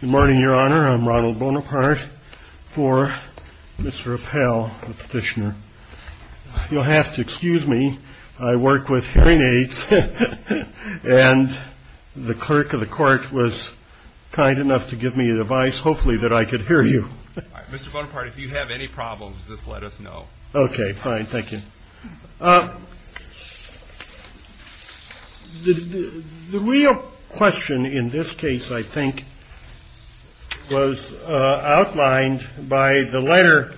Good morning, your honor. I'm Ronald Bonaparte for Mr. Appel, the petitioner. You'll have to excuse me. I work with hearing aids. And the clerk of the court was kind enough to give me advice. Hopefully that I could hear you. Mr. Bonaparte, if you have any problems, just let us know. OK, fine. Thank you. The real question in this case, I think, was outlined by the letter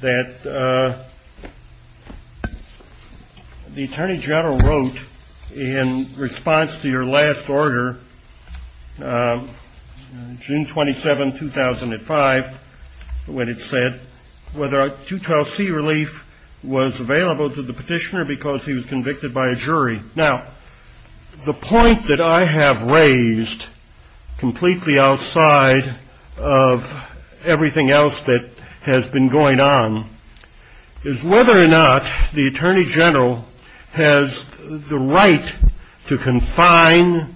that the Attorney General wrote in response to your last order, June 27, 2005, when it said whether a 212C relief was available to the petitioner because he was convicted by a jury. Now, the point that I have raised, completely outside of everything else that has been going on, is whether or not the Attorney General has the right to confine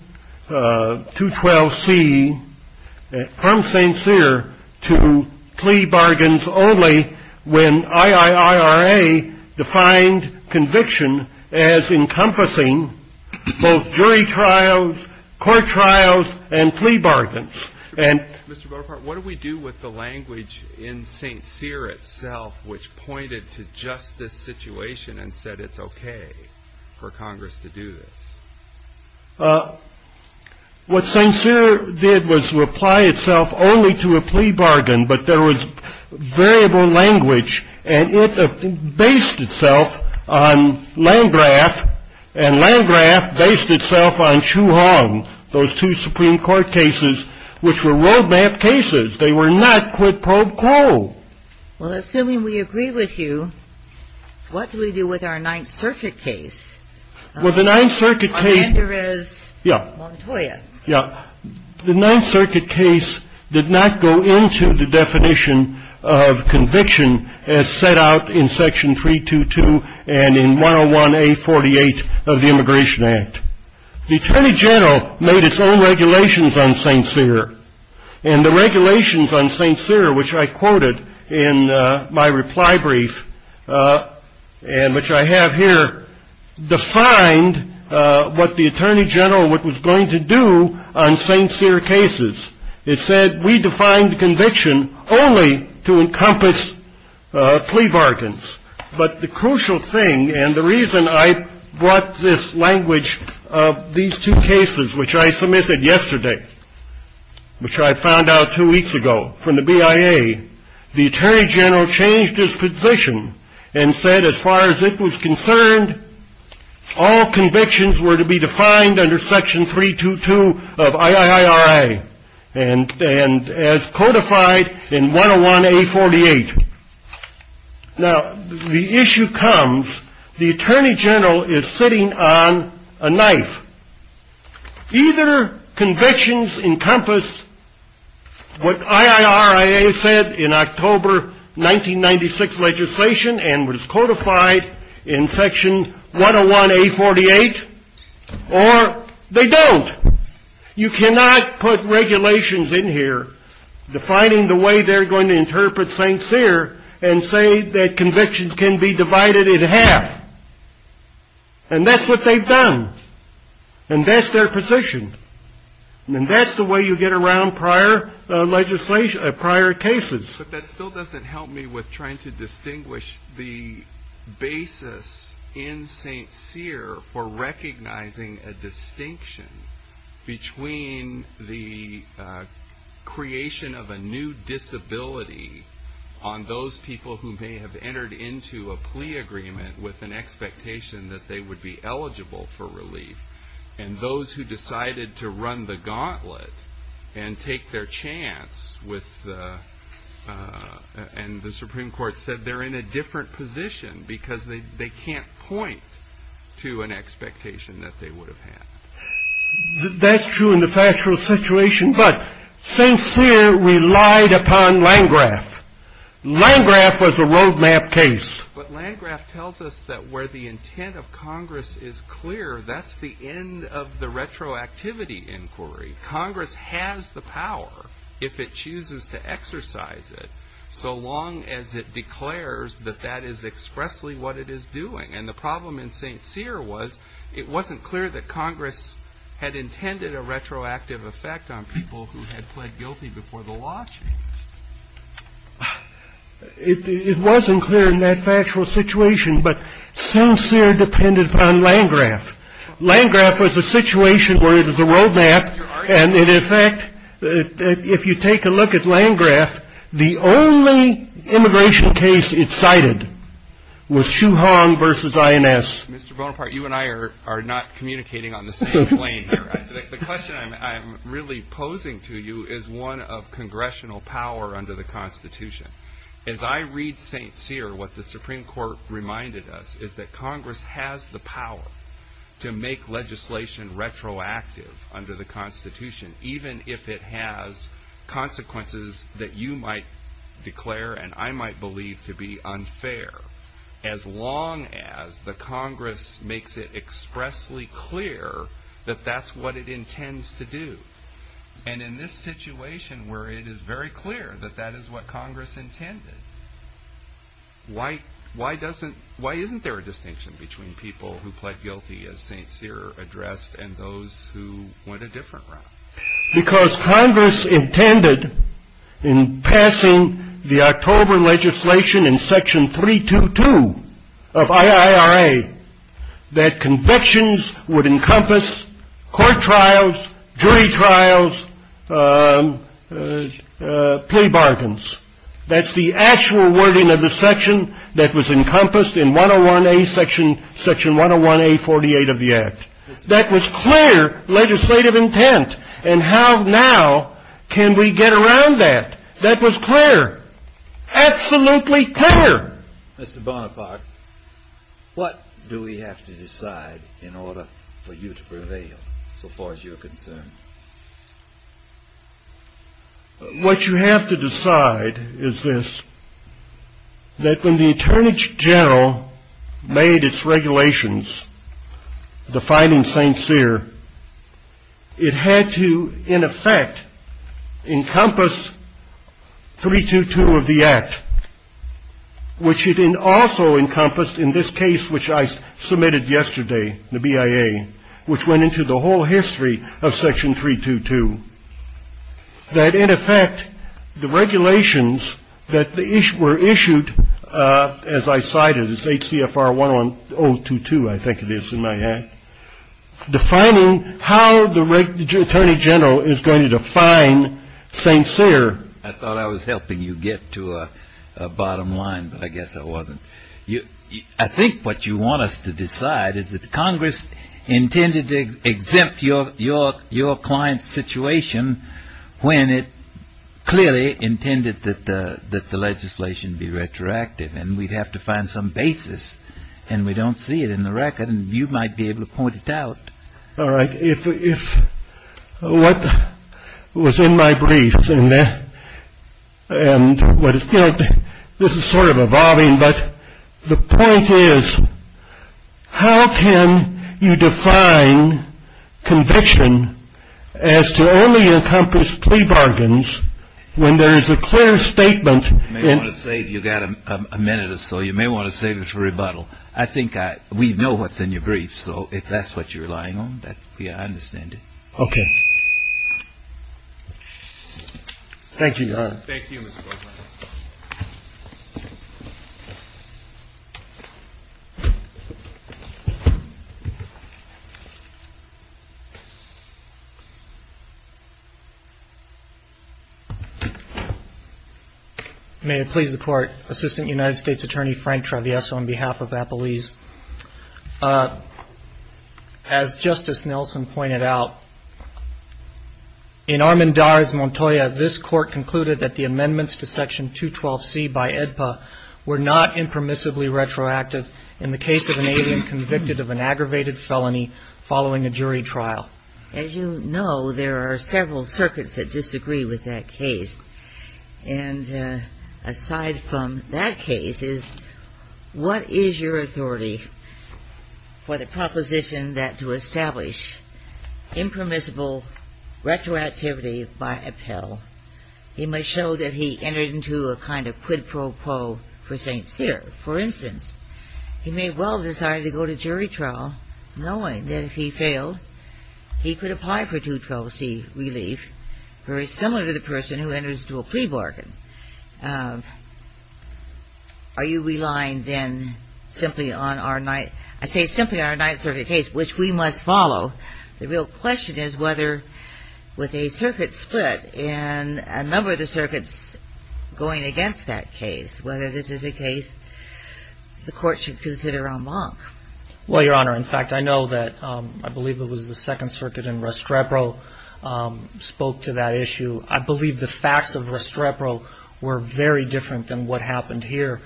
212C from St. Cyr to plea bargains only when IIIRA defined conviction as encompassing both jury trials, court trials, and plea bargains. Mr. Bonaparte, what do we do with the language in St. Cyr itself which pointed to just this situation and said it's OK for Congress to do this? What St. Cyr did was reply itself only to a plea bargain. But there was variable language, and it based itself on Landgraf. And Landgraf based itself on Chu Hong, those two Supreme Court cases, which were roadmap cases. They were not quid pro quo. Well, assuming we agree with you, what do we do with our Ninth Circuit case? Well, the Ninth Circuit case did not go into the definition of conviction as set out in Section 322 and in 101A48 of the Immigration Act. The Attorney General made its own regulations on St. Cyr. And the regulations on St. Cyr, which I quoted in my reply brief and which I have here, defined what the Attorney General was going to do on St. Cyr cases. It said we defined conviction only to encompass plea bargains. But the crucial thing and the reason I brought this language of these two cases, which I submitted yesterday, which I found out two weeks ago from the BIA, the Attorney General changed his position and said as far as it was concerned, all convictions were to be defined under Section 322 of IIIRA and as codified in 101A48. Now, the issue comes, the Attorney General is sitting on a knife. Either convictions encompass what IIRIA said in October 1996 legislation and was codified in Section 101A48, or they don't. You cannot put regulations in here defining the way they're going to interpret St. Cyr and say that convictions can be divided in half. And that's what they've done. And that's their position. And that's the way you get around prior legislation, prior cases. But that still doesn't help me with trying to distinguish the basis in St. Cyr for recognizing a distinction between the creation of a new disability on those people who may have entered into a plea agreement with an expectation that they would be eligible for relief and those who decided to run the gauntlet and take their chance with, and the Supreme Court said they're in a different position because they can't point to an expectation that they would have had. That's true in the factual situation, but St. Cyr relied upon Landgraf. Landgraf was a roadmap case. But Landgraf tells us that where the intent of Congress is clear, that's the end of the retroactivity inquiry. Congress has the power, if it chooses to exercise it, so long as it declares that that is expressly what it is doing. And the problem in St. Cyr was it wasn't clear that Congress had intended a retroactive effect on people who had pled guilty before the law changed. It wasn't clear in that factual situation, but St. Cyr depended upon Landgraf. Landgraf was a situation where it was a roadmap, and in effect, if you take a look at Landgraf, the only immigration case it cited was Shu Hong versus INS. Mr. Bonaparte, you and I are not communicating on the same plane here. The question I'm really posing to you is one of congressional power under the Constitution. As I read St. Cyr, what the Supreme Court reminded us is that Congress has the power to make legislation retroactive under the Constitution, even if it has consequences that you might declare and I might believe to be unfair, as long as the Congress makes it expressly clear that that's what it intends to do. And in this situation where it is very clear that that is what Congress intended, why isn't there a distinction between people who pled guilty, as St. Cyr addressed, and those who went a different route? Because Congress intended in passing the October legislation in section 322 of IIRA that convictions would encompass court trials, jury trials, plea bargains. That's the actual wording of the section that was encompassed in 101A, section 101A48 of the Act. That was clear legislative intent. And how now can we get around that? That was clear. Absolutely clear. Mr. Bonaparte, what do we have to decide in order for you to prevail, so far as you're concerned? What you have to decide is this, that when the Attorney General made its regulations defining St. Cyr, it had to, in effect, encompass 322 of the Act, which it also encompassed in this case which I submitted yesterday, the BIA, which went into the whole history of section 322. That, in effect, the regulations that were issued, as I cited, is 8 CFR 1022, I think it is in my hand, defining how the Attorney General is going to define St. Cyr. I thought I was helping you get to a bottom line, but I guess I wasn't. I think what you want us to decide is that Congress intended to exempt your client's situation when it clearly intended that the legislation be retroactive, and we'd have to find some basis, and we don't see it in the record, and you might be able to point it out. All right. If what was in my brief, and this is sort of evolving, but the point is, how can you define conviction as to only encompass plea bargains when there is a clear statement? You may want to save, you've got a minute or so, you may want to save it for rebuttal. I think we know what's in your brief, so if that's what you're relying on, yeah, I understand it. Thank you, Your Honor. Thank you, Mr. Guzman. May it please the Court. Assistant United States Attorney Frank Travieso on behalf of Appalese. As Justice Nelson pointed out, in Armendariz Montoya, this Court concluded that the amendments to Section 212C by AEDPA were not impermissibly retroactive in the case of an alien convicted of an aggravated felony following a jury trial. As you know, there are several circuits that disagree with that case, and aside from that case is, what is your authority for the proposition that to establish impermissible retroactivity by appell, he must show that he entered into a kind of quid pro quo for St. Cyr? For instance, he may well have decided to go to jury trial knowing that if he failed, he could apply for 212C relief, very similar to the person who enters into a plea bargain. Are you relying, then, simply on our Ninth Circuit case, which we must follow? The real question is whether, with a circuit split and a number of the circuits going against that case, whether this is a case the Court should consider en banc. Well, Your Honor, in fact, I know that I believe it was the Second Circuit in Restrepo spoke to that issue. I believe the facts of Restrepo were very different than what happened here.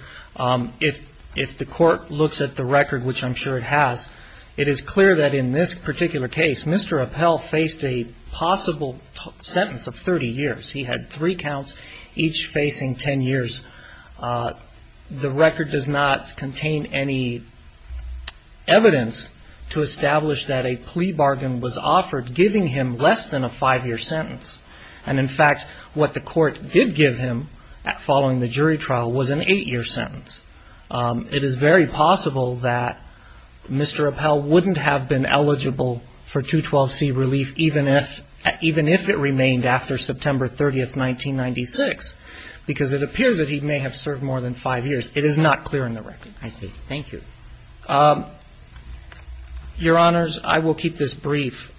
If the Court looks at the record, which I'm sure it has, it is clear that in this particular case, Mr. Appell faced a possible sentence of 30 years. He had three counts, each facing 10 years. The record does not contain any evidence to establish that a plea bargain was offered, giving him less than a five-year sentence. And, in fact, what the Court did give him following the jury trial was an eight-year sentence. It is very possible that Mr. Appell wouldn't have been eligible for 212C relief, even if it remained after September 30, 1996, because it appears that he may have served more than five years. It is not clear in the record. I see. Thank you. Your Honors, I will keep this brief.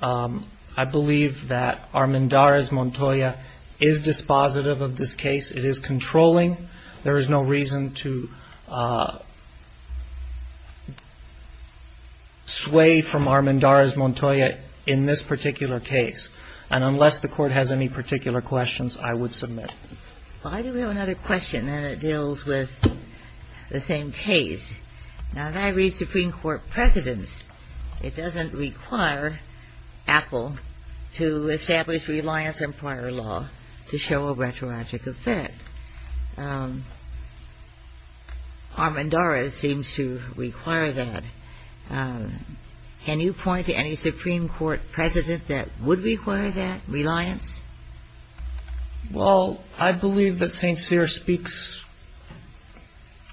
I believe that Armendariz Montoya is dispositive of this case. It is controlling. There is no reason to sway from Armendariz Montoya in this particular case. And unless the Court has any particular questions, I would submit. Well, I do have another question, and it deals with the same case. Now, as I read Supreme Court precedents, it doesn't require Appell to establish reliance on prior law to show a rhetorical fact. Armendariz seems to require that. Can you point to any Supreme Court precedent that would require that reliance? Well, I believe that St. Cyr speaks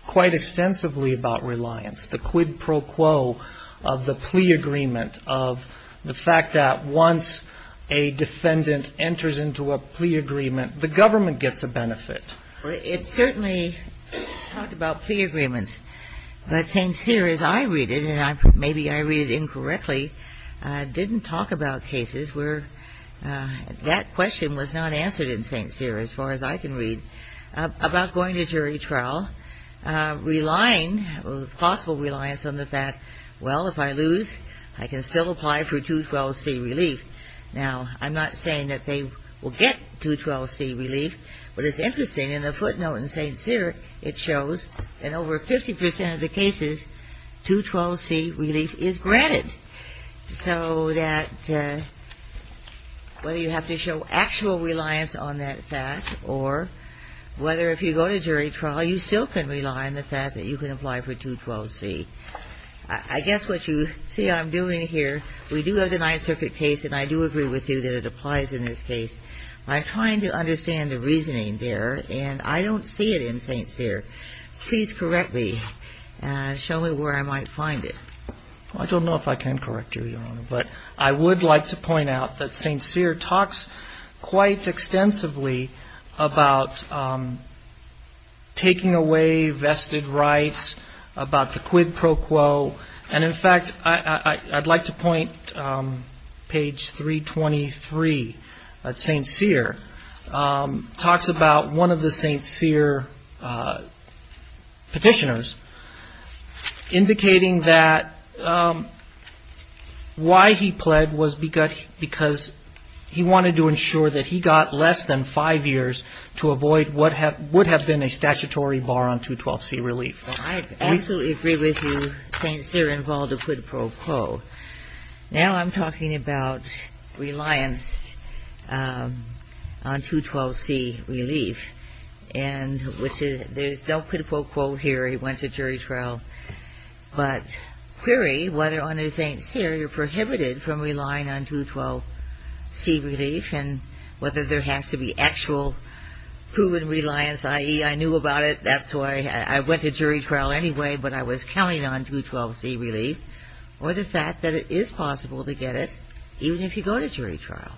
quite extensively about reliance, the quid pro quo of the plea agreement, of the fact that once a defendant enters into a plea agreement, the government gets a benefit. It certainly talked about plea agreements. But St. Cyr, as I read it, and maybe I read it incorrectly, didn't talk about cases where that question was not answered in St. Cyr, as far as I can read, about going to jury trial, relying, with possible reliance on the fact, well, if I lose, I can still apply for 212C relief. Now, I'm not saying that they will get 212C relief. What is interesting, in the footnote in St. Cyr, it shows that over 50% of the cases, 212C relief is granted. So that whether you have to show actual reliance on that fact or whether if you go to jury trial, you still can rely on the fact that you can apply for 212C. I guess what you see I'm doing here, we do have the Ninth Circuit case, and I do agree with you that it applies in this case. By trying to understand the reasoning there, and I don't see it in St. Cyr, please correctly show me where I might find it. I don't know if I can correct you, Your Honor, but I would like to point out that St. Cyr talks quite extensively about taking away vested rights, about the quid pro quo. And in fact, I'd like to point page 323. St. Cyr talks about one of the St. Cyr petitioners, indicating that why he pled was because he wanted to ensure that he got less than five years to avoid what would have been a statutory bar on 212C relief. Well, I absolutely agree with you. St. Cyr involved a quid pro quo. Now I'm talking about reliance on 212C relief, and which is there's no quid pro quo here. He went to jury trial. But query whether on a St. Cyr you're prohibited from relying on 212C relief and whether there has to be actual proven reliance, i.e. I knew about it, that's why I went to jury trial anyway, but I was counting on 212C relief, or the fact that it is possible to get it even if you go to jury trial.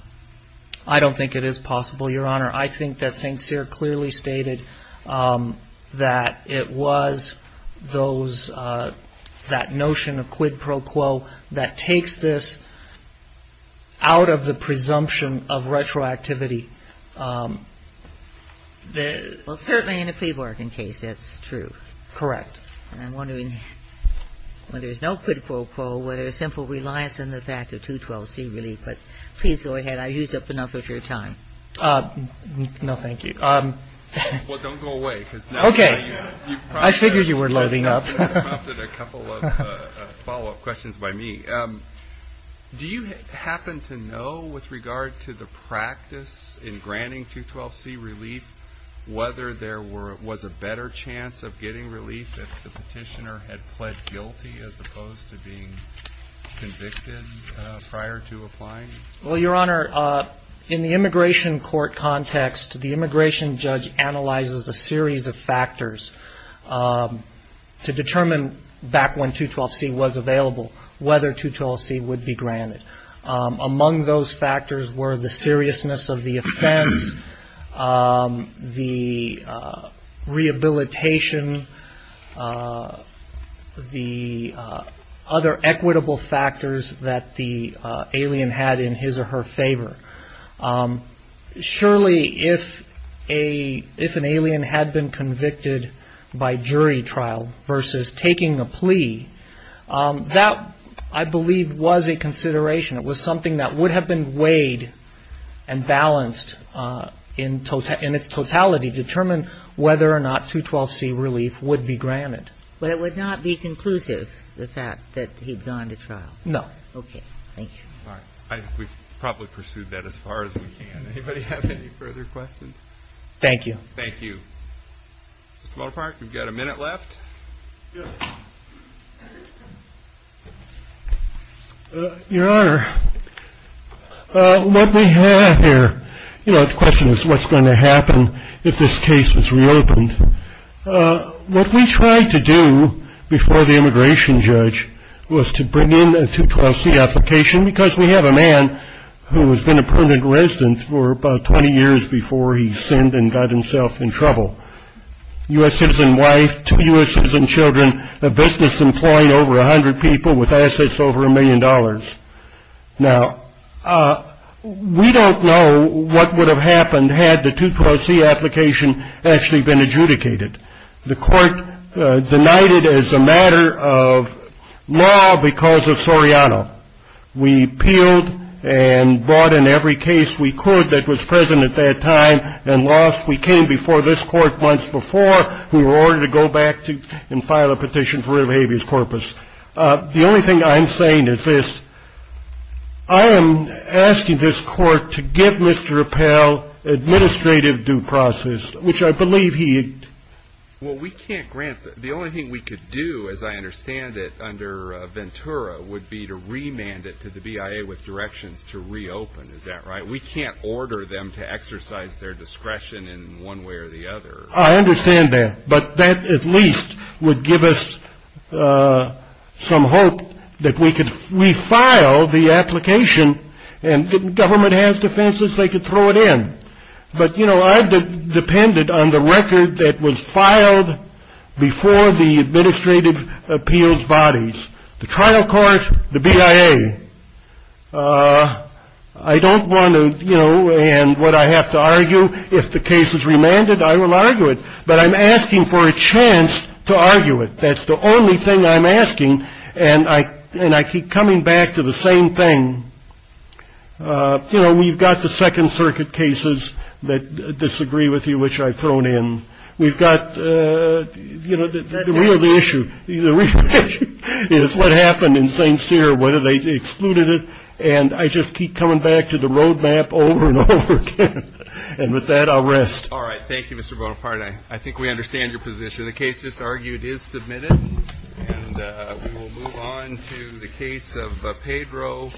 I don't think it is possible, Your Honor. I think that St. Cyr clearly stated that it was that notion of quid pro quo that takes this out of the presumption of retroactivity. Well, certainly in a plea bargain case, that's true. Correct. And I'm wondering whether there's no quid pro quo, whether there's simple reliance on the fact of 212C relief. But please go ahead. I used up enough of your time. No, thank you. Well, don't go away. Okay. I figured you were loading up. A couple of follow-up questions by me. Do you happen to know, with regard to the practice in granting 212C relief, whether there was a better chance of getting relief if the petitioner had pled guilty as opposed to being convicted prior to applying? Well, Your Honor, in the immigration court context, the immigration judge analyzes a series of factors to determine, back when 212C was available, whether 212C would be granted. Among those factors were the seriousness of the offense, the rehabilitation, the other equitable factors that the alien had in his or her favor. Surely, if an alien had been convicted by jury trial versus taking a plea, that, I believe, was a consideration. It was something that would have been weighed and balanced in its totality, determined whether or not 212C relief would be granted. But it would not be conclusive, the fact that he'd gone to trial? No. Okay. Thank you. All right. We've probably pursued that as far as we can. Anybody have any further questions? Thank you. Thank you. Mr. Motorpark, we've got a minute left. Your Honor, what we have here, you know, the question is, what's going to happen if this case is reopened? What we tried to do before the immigration judge was to bring in a 212C application because we have a man who has been a permanent resident for about 20 years before he sinned and got himself in trouble, U.S. citizen wife, two U.S. citizen children, a business employing over 100 people with assets over a million dollars. Now, we don't know what would have happened had the 212C application actually been adjudicated. The court denied it as a matter of law because of Soriano. We appealed and brought in every case we could that was present at that time and lost. We came before this court months before in order to go back and file a petition for rid of habeas corpus. The only thing I'm saying is this. I am asking this court to give Mr. Appell administrative due process, which I believe he had. Well, we can't grant that. The only thing we could do, as I understand it, under Ventura would be to remand it to the BIA with directions to reopen. Is that right? We can't order them to exercise their discretion in one way or the other. I understand that. But that at least would give us some hope that we could refile the application. And if the government has defenses, they could throw it in. But, you know, I've depended on the record that was filed before the administrative appeals bodies, the trial court, the BIA. I don't want to, you know, and what I have to argue, if the case is remanded, I will argue it. But I'm asking for a chance to argue it. That's the only thing I'm asking. And I and I keep coming back to the same thing. You know, we've got the Second Circuit cases that disagree with you, which I've thrown in. We've got, you know, the real issue is what happened in St. Cyr, whether they excluded it. And I just keep coming back to the road map over and over again. And with that, I'll rest. All right. Thank you, Mr. Bonaparte. I think we understand your position. The case just argued is submitted. And we will move on to the case of Pedro.